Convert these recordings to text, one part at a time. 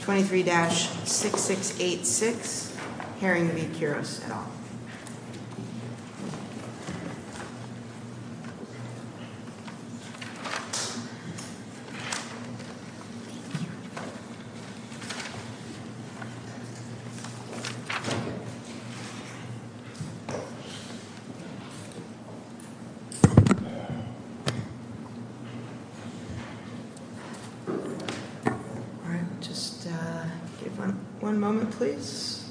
23-6686, Herring v. Quiros et al. One moment, please.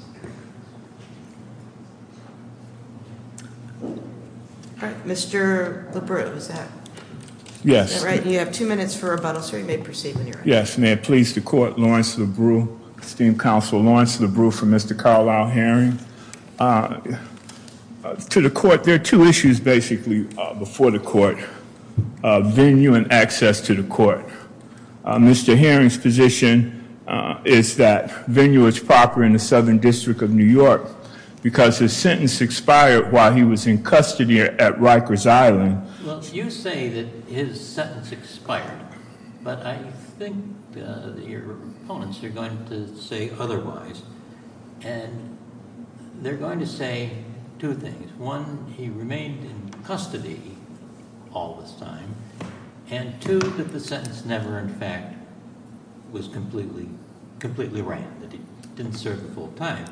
Mr. LaBru, is that right? Yes. You have two minutes for rebuttal, sir. You may proceed when you're ready. Yes. May it please the court, Lawrence LaBru, esteemed counsel. Lawrence LaBru for Mr. Carlisle Herring. To the court, there are two issues, basically, before the court. Venue and access to the court. Mr. Herring's position is that venue is proper in the Southern District of New York because his sentence expired while he was in custody at Rikers Island. Well, you say that his sentence expired, but I think your opponents are going to say otherwise. And they're going to say two things. One, he remained in custody all this time. And two, that the sentence never, in fact, was completely right, that he didn't serve the full time.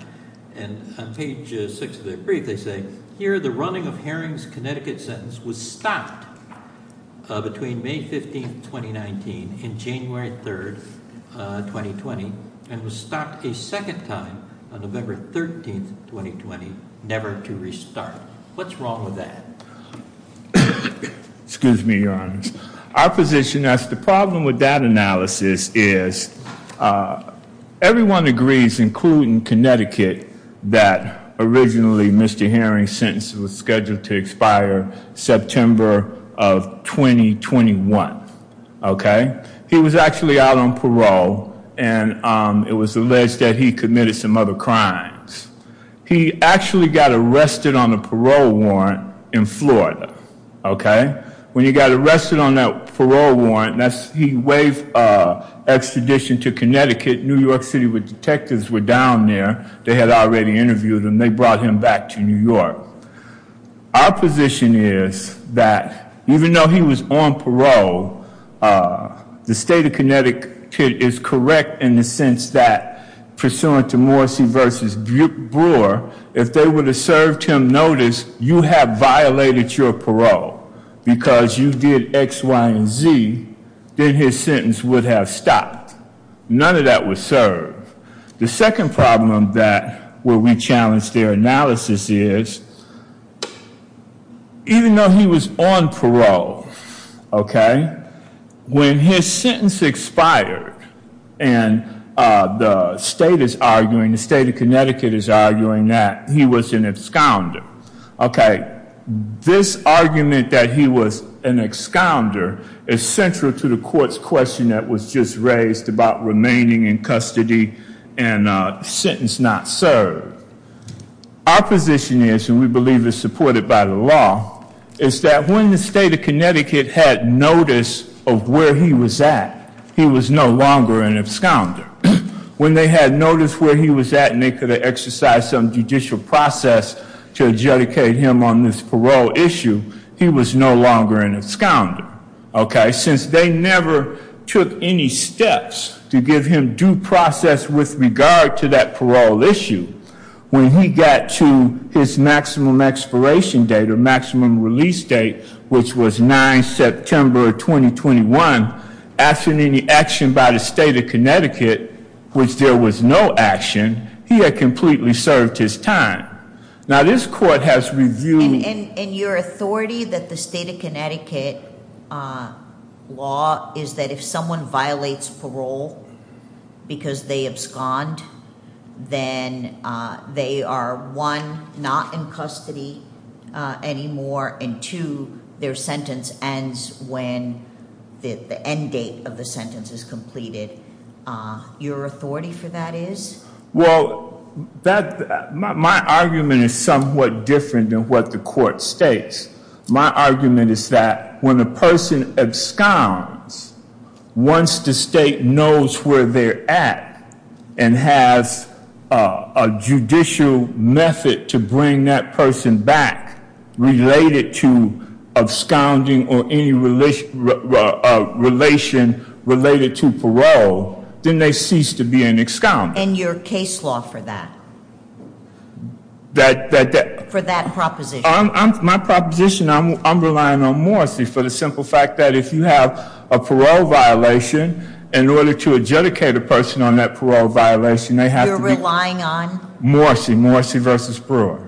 And on page 6 of their brief, they say, Here, the running of Herring's Connecticut sentence was stopped between May 15, 2019, and January 3, 2020, and was stopped a second time on November 13, 2020, never to restart. What's wrong with that? Excuse me, Your Honor. Our position is the problem with that analysis is everyone agrees, including Connecticut, that originally Mr. Herring's sentence was scheduled to expire September of 2021. Okay? He was actually out on parole, and it was alleged that he committed some other crimes. He actually got arrested on a parole warrant in Florida. Okay? When he got arrested on that parole warrant, he waived extradition to Connecticut. New York City detectives were down there. They had already interviewed him. They brought him back to New York. Our position is that even though he was on parole, the state of Connecticut is correct in the sense that, pursuant to Morrissey v. Brewer, if they would have served him notice, you have violated your parole. Because you did X, Y, and Z, then his sentence would have stopped. None of that would serve. The second problem that we challenge their analysis is, even though he was on parole, okay, when his sentence expired and the state is arguing, the state of Connecticut is arguing that he was an excounder. Okay. This argument that he was an excounder is central to the court's question that was just raised about remaining in custody and sentence not served. Our position is, and we believe it's supported by the law, is that when the state of Connecticut had notice of where he was at, he was no longer an excounder. When they had notice where he was at and they could have exercised some judicial process to adjudicate him on this parole issue, he was no longer an excounder. Okay. Since they never took any steps to give him due process with regard to that parole issue, when he got to his maximum expiration date or maximum release date, which was 9 September of 2021, after any action by the state of Connecticut, which there was no action, he had completely served his time. Now, this court has reviewed- And your authority that the state of Connecticut law is that if someone violates parole because they abscond, then they are, one, not in custody anymore, and, two, their sentence ends when the end date of the sentence is completed. Your authority for that is? Well, my argument is somewhat different than what the court states. My argument is that when a person absconds, once the state knows where they're at and has a judicial method to bring that person back related to absconding or any relation related to parole, then they cease to be an excounder. And your case law for that? That- For that proposition. My proposition, I'm relying on Morrissey for the simple fact that if you have a parole violation, in order to adjudicate a person on that parole violation, they have to be- You're relying on? Morrissey. Morrissey v. Brewer.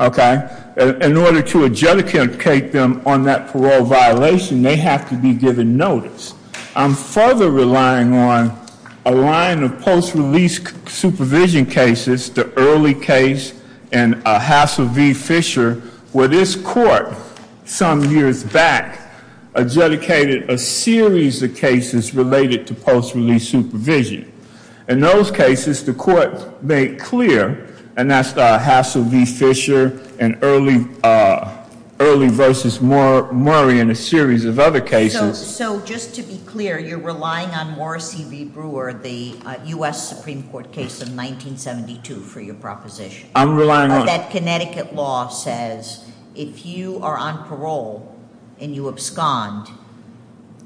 Okay. Okay. In order to adjudicate them on that parole violation, they have to be given notice. I'm further relying on a line of post-release supervision cases, the early case and Hassell v. Fisher, where this court, some years back, adjudicated a series of cases related to post-release supervision. In those cases, the court made clear, and that's the Hassell v. Fisher and early versus Murray and a series of other cases- So, just to be clear, you're relying on Morrissey v. Brewer, the U.S. Supreme Court case of 1972, for your proposition? I'm relying on- That Connecticut law says, if you are on parole and you abscond,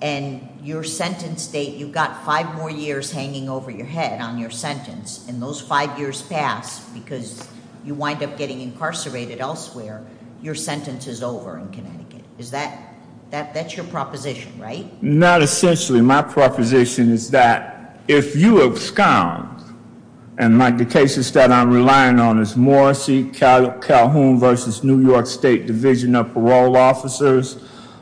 and your sentence date, you've got five more years hanging over your head on your sentence, and those five years pass because you wind up getting incarcerated elsewhere, your sentence is over in Connecticut. That's your proposition, right? Not essentially. My proposition is that, if you abscond, and the cases that I'm relying on is Morrissey v. Calhoun v. New York State Division of Parole Officers.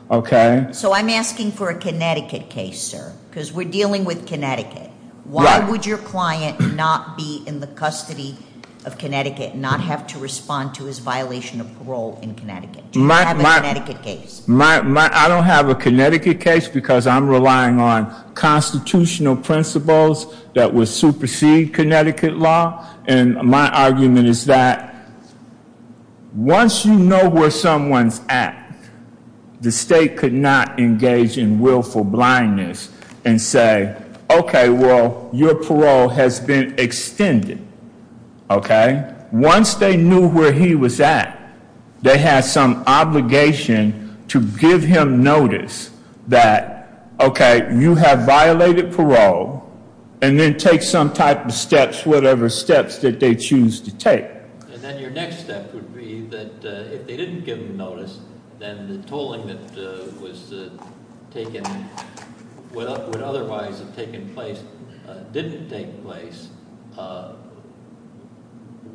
So, I'm asking for a Connecticut case, sir, because we're dealing with Connecticut. Why would your client not be in the custody of Connecticut, not have to respond to his violation of parole in Connecticut? Do you have a Connecticut case? I don't have a Connecticut case because I'm relying on constitutional principles that would supersede Connecticut law, and my argument is that, once you know where someone's at, the state could not engage in willful blindness and say, okay, well, your parole has been extended, okay? Once they knew where he was at, they had some obligation to give him notice that, okay, you have violated parole, and then take some type of steps, whatever steps that they choose to take. And then your next step would be that, if they didn't give him notice, then the tolling that would otherwise have taken place didn't take place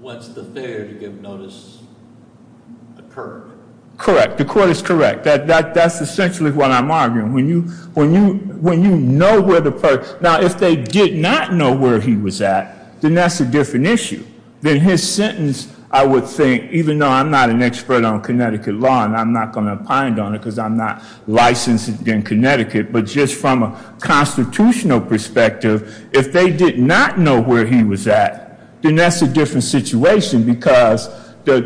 once the failure to give notice occurred. Correct. The court is correct. That's essentially what I'm arguing. When you know where the person—now, if they did not know where he was at, then that's a different issue. In his sentence, I would think, even though I'm not an expert on Connecticut law, and I'm not going to opine on it because I'm not licensed in Connecticut, but just from a constitutional perspective, if they did not know where he was at, then that's a different situation because the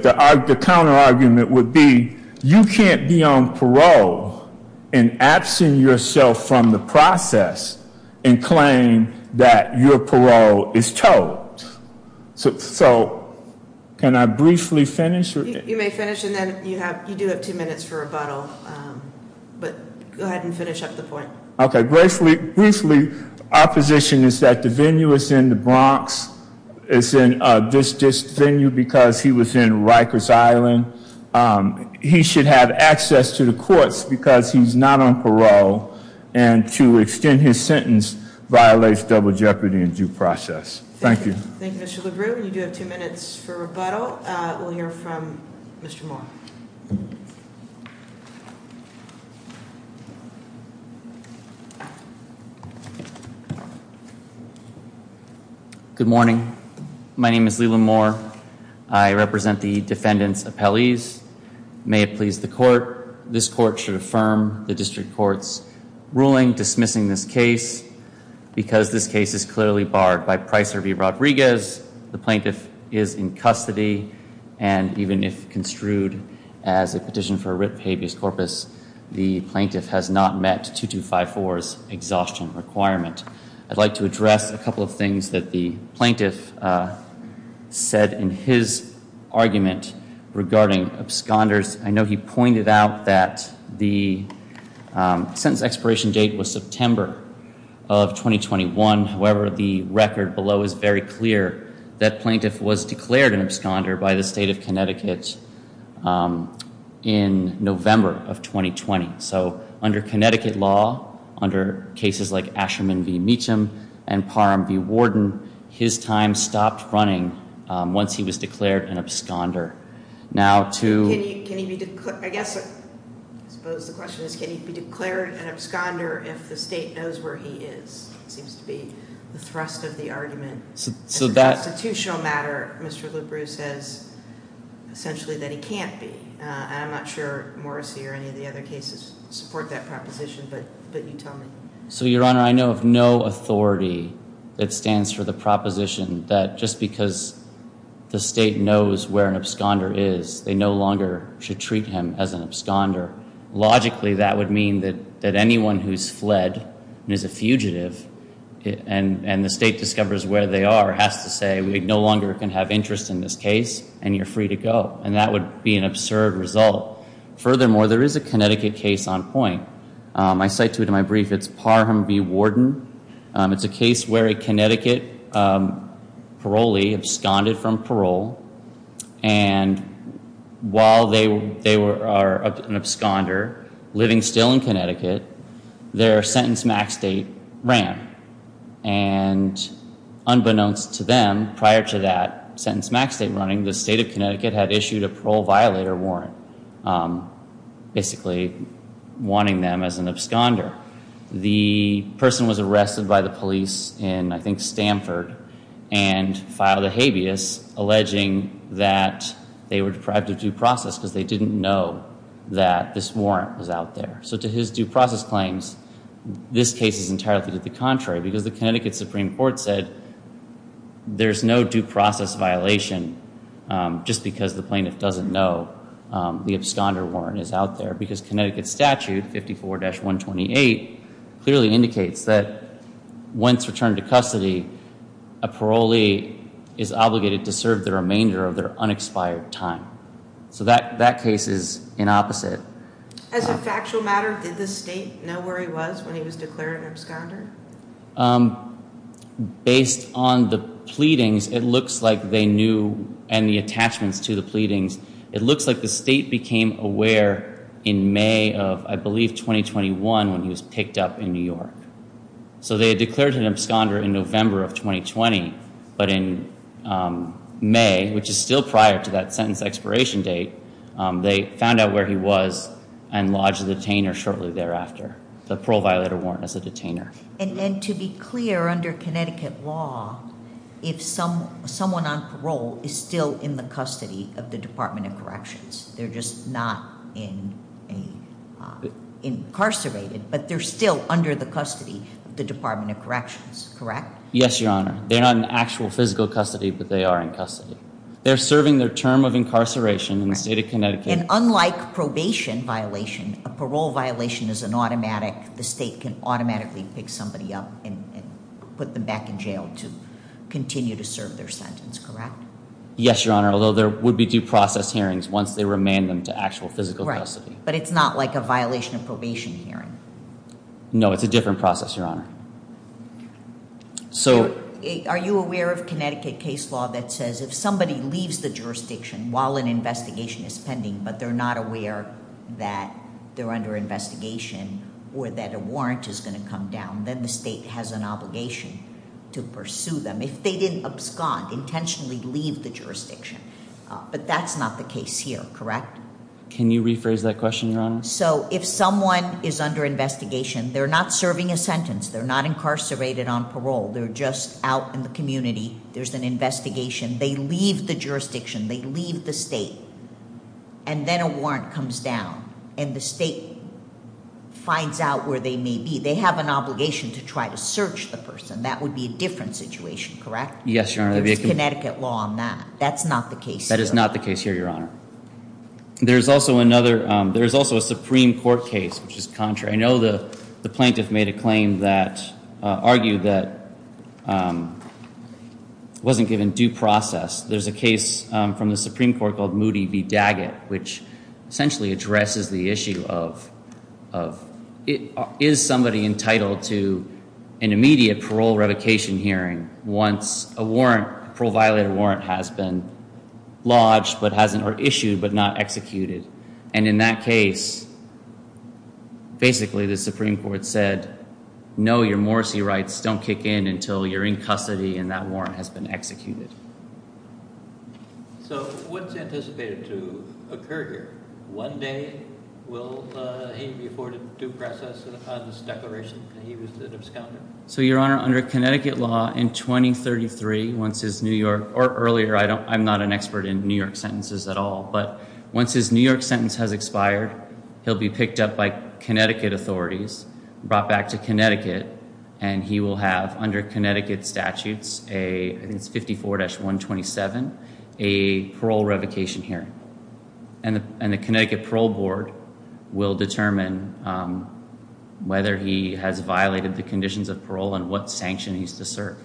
counterargument would be, you can't be on parole and absent yourself from the process and claim that your parole is tolled. So can I briefly finish? You may finish, and then you do have two minutes for rebuttal, but go ahead and finish up the point. Okay, briefly, our position is that the venue is in the Bronx. It's in this venue because he was in Rikers Island. He should have access to the courts because he's not on parole, and to extend his sentence violates double jeopardy in due process. Thank you. Thank you, Mr. LaGrube. You do have two minutes for rebuttal. We'll hear from Mr. Moore. Good morning. My name is Leland Moore. I represent the defendant's appellees. May it please the court, this court should affirm the district court's ruling dismissing this case because this case is clearly barred by Pricer v. Rodriguez. The plaintiff is in custody, and even if construed as a petition for writ habeas corpus, the plaintiff has not met 2254's exhaustion requirement. I'd like to address a couple of things that the plaintiff said in his argument regarding absconders. I know he pointed out that the sentence expiration date was September of 2021. However, the record below is very clear that plaintiff was declared an absconder by the state of Connecticut in November of 2020. So under Connecticut law, under cases like Asherman v. Meacham and Parham v. Warden, his time stopped running once he was declared an absconder. I suppose the question is, can he be declared an absconder if the state knows where he is? It seems to be the thrust of the argument. As a constitutional matter, Mr. LeBrew says essentially that he can't be. I'm not sure Morrissey or any of the other cases support that proposition, but you tell me. So, Your Honor, I know of no authority that stands for the proposition that just because the state knows where an absconder is, they no longer should treat him as an absconder. Logically, that would mean that anyone who's fled and is a fugitive and the state discovers where they are has to say, we no longer can have interest in this case, and you're free to go. And that would be an absurd result. Furthermore, there is a Connecticut case on point. I cite to it in my brief. It's Parham v. Warden. It's a case where a Connecticut parolee absconded from parole, and while they are an absconder living still in Connecticut, their sentence max date ran. And unbeknownst to them, prior to that sentence max date running, the state of Connecticut had issued a parole violator warrant, basically wanting them as an absconder. The person was arrested by the police in, I think, Stanford, and filed a habeas alleging that they were deprived of due process because they didn't know that this warrant was out there. So to his due process claims, this case is entirely to the contrary, because the Connecticut Supreme Court said there's no due process violation just because the plaintiff doesn't know the absconder warrant is out there, because Connecticut statute 54-128 clearly indicates that once returned to custody, a parolee is obligated to serve the remainder of their unexpired time. So that case is in opposite. As a factual matter, did the state know where he was when he was declared an absconder? Based on the pleadings, it looks like they knew, and the attachments to the pleadings, it looks like the state became aware in May of, I believe, 2021 when he was picked up in New York. So they had declared him absconder in November of 2020, but in May, which is still prior to that sentence expiration date, they found out where he was and lodged a detainer shortly thereafter, the parole violator warrant as a detainer. And to be clear, under Connecticut law, if someone on parole is still in the custody of the Department of Corrections, they're just not incarcerated, but they're still under the custody of the Department of Corrections, correct? Yes, Your Honor. They're not in actual physical custody, but they are in custody. They're serving their term of incarceration in the state of Connecticut. And unlike probation violation, a parole violation is an automatic. The state can automatically pick somebody up and put them back in jail to continue to serve their sentence, correct? Yes, Your Honor, although there would be due process hearings once they remand them to actual physical custody. But it's not like a violation of probation hearing. No, it's a different process, Your Honor. So are you aware of Connecticut case law that says if somebody leaves the jurisdiction while an investigation is pending, but they're not aware that they're under investigation or that a warrant is going to come down, then the state has an obligation to pursue them if they didn't abscond, intentionally leave the jurisdiction. But that's not the case here, correct? So if someone is under investigation, they're not serving a sentence. They're not incarcerated on parole. They're just out in the community. There's an investigation. They leave the jurisdiction. They leave the state. And then a warrant comes down, and the state finds out where they may be. They have an obligation to try to search the person. That would be a different situation, correct? Yes, Your Honor. There's Connecticut law on that. That's not the case here. That is not the case here, Your Honor. There's also a Supreme Court case, which is contrary. I know the plaintiff made a claim that argued that wasn't given due process. There's a case from the Supreme Court called Moody v. Daggett, which essentially addresses the issue of is somebody entitled to an immediate parole revocation hearing once a parole-violated warrant has been lodged or issued but not executed. And in that case, basically the Supreme Court said, no, your Morrissey rights don't kick in until you're in custody and that warrant has been executed. So what's anticipated to occur here? One day will he be afforded due process on this declaration that he was an absconder? So, Your Honor, under Connecticut law, in 2033, once his New York or earlier, I'm not an expert in New York sentences at all, but once his New York sentence has expired, he'll be picked up by Connecticut authorities, brought back to Connecticut, and he will have, under Connecticut statutes, I think it's 54-127, a parole revocation hearing. And the Connecticut Parole Board will determine whether he has violated the conditions of parole and what sanction he's to serve.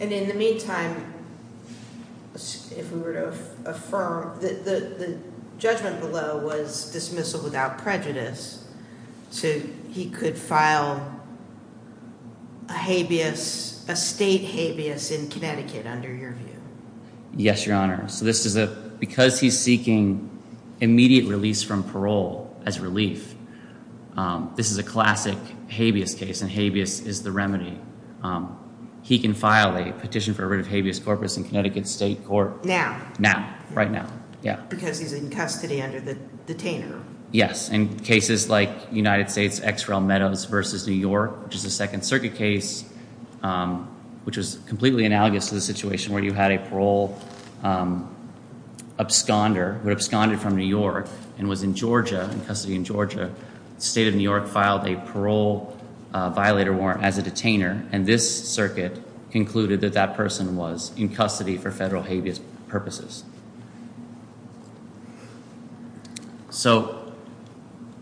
And in the meantime, if we were to affirm, the judgment below was dismissal without prejudice. So he could file a habeas, a state habeas in Connecticut under your view? Yes, Your Honor. So this is a, because he's seeking immediate release from parole as relief, this is a classic habeas case, and habeas is the remedy. He can file a petition for a writ of habeas corpus in Connecticut State Court. Now? Now, right now. Because he's in custody under the detainer. Yes. In cases like United States, XREL Meadows versus New York, which is a Second Circuit case, which is completely analogous to the situation where you had a parole absconder, who absconded from New York and was in Georgia, in custody in Georgia. State of New York filed a parole violator warrant as a detainer, and this circuit concluded that that person was in custody for federal habeas purposes. So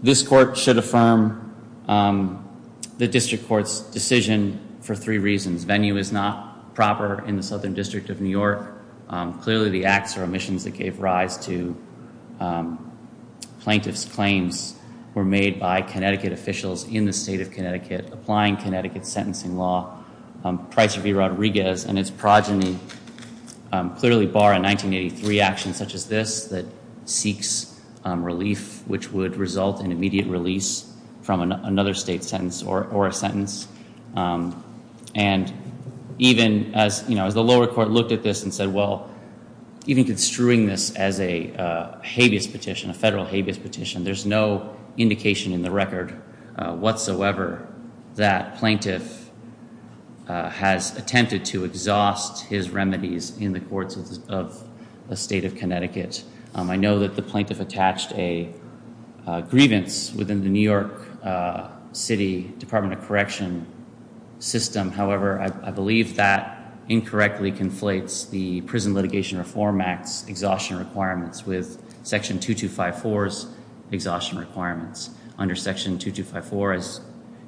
this court should affirm the district court's decision for three reasons. Venue is not proper in the Southern District of New York. Clearly the acts or omissions that gave rise to plaintiff's claims were made by Connecticut officials in the state of Connecticut, applying Connecticut's sentencing law, Pricer v. Rodriguez, and its progeny clearly bar a 1983 action such as this that seeks relief, which would result in immediate release from another state sentence or a sentence. And even as the lower court looked at this and said, well, even construing this as a habeas petition, a federal habeas petition, there's no indication in the record whatsoever that plaintiff has attempted to exhaust his remedies in the courts of the state of Connecticut. I know that the plaintiff attached a grievance within the New York City Department of Correction system. However, I believe that incorrectly conflates the Prison Litigation Reform Act's exhaustion requirements with Section 2254's exhaustion requirements. Under Section 2254, as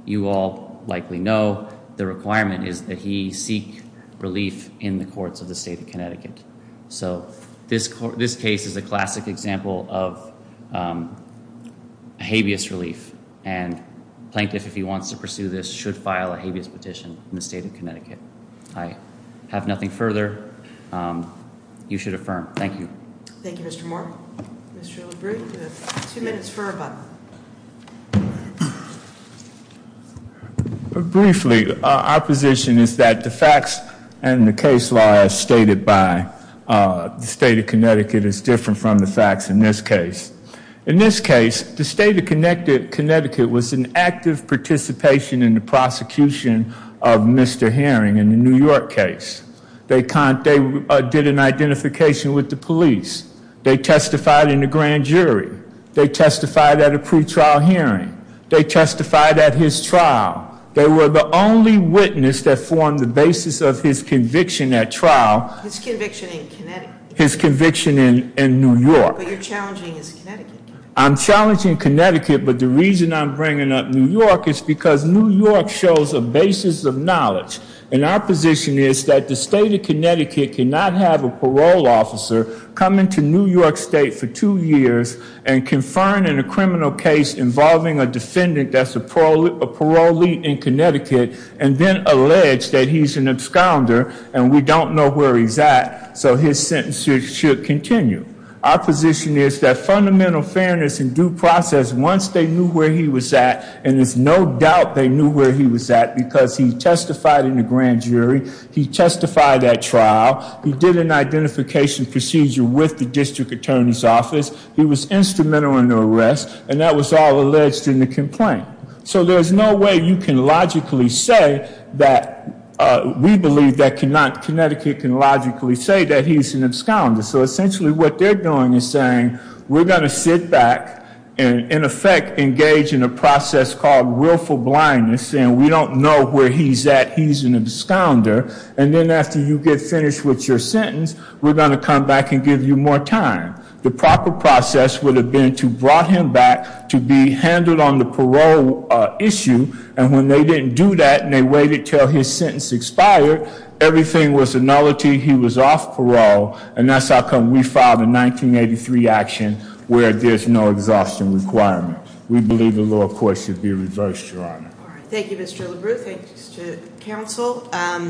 you all likely know, the requirement is that he seek relief in the courts of the state of Connecticut. So this case is a classic example of habeas relief, and plaintiff, if he wants to pursue this, should file a habeas petition in the state of Connecticut. I have nothing further. You should affirm. Thank you. Thank you, Mr. Moore. Mr. LaBrie, you have two minutes for rebuttal. Briefly, our position is that the facts and the case law as stated by the state of Connecticut is different from the facts in this case. In this case, the state of Connecticut was in active participation in the prosecution of Mr. Herring in the New York case. They did an identification with the police. They testified in the grand jury. They testified at a pretrial hearing. They testified at his trial. They were the only witness that formed the basis of his conviction at trial. His conviction in Connecticut. His conviction in New York. But you're challenging his Connecticut case. I'm challenging Connecticut, but the reason I'm bringing up New York is because New York shows a basis of knowledge. And our position is that the state of Connecticut cannot have a parole officer come into New York State for two years and confirm in a criminal case involving a defendant that's a parolee in Connecticut and then allege that he's an absconder and we don't know where he's at, so his sentence should continue. Our position is that fundamental fairness and due process, once they knew where he was at, and there's no doubt they knew where he was at because he testified in the grand jury. He testified at trial. He did an identification procedure with the district attorney's office. He was instrumental in the arrest, and that was all alleged in the complaint. So there's no way you can logically say that we believe that Connecticut can logically say that he's an absconder. So essentially what they're doing is saying, we're going to sit back and in effect engage in a process called willful blindness and we don't know where he's at, he's an absconder, and then after you get finished with your sentence, we're going to come back and give you more time. The proper process would have been to brought him back to be handled on the parole issue, and when they didn't do that and they waited until his sentence expired, everything was a nullity. He was off parole, and that's how come we filed a 1983 action where there's no exhaustion requirement. We believe the lower court should be reversed, Your Honor. Thank you, Mr. LaBrue. Thank you, Mr. Counsel.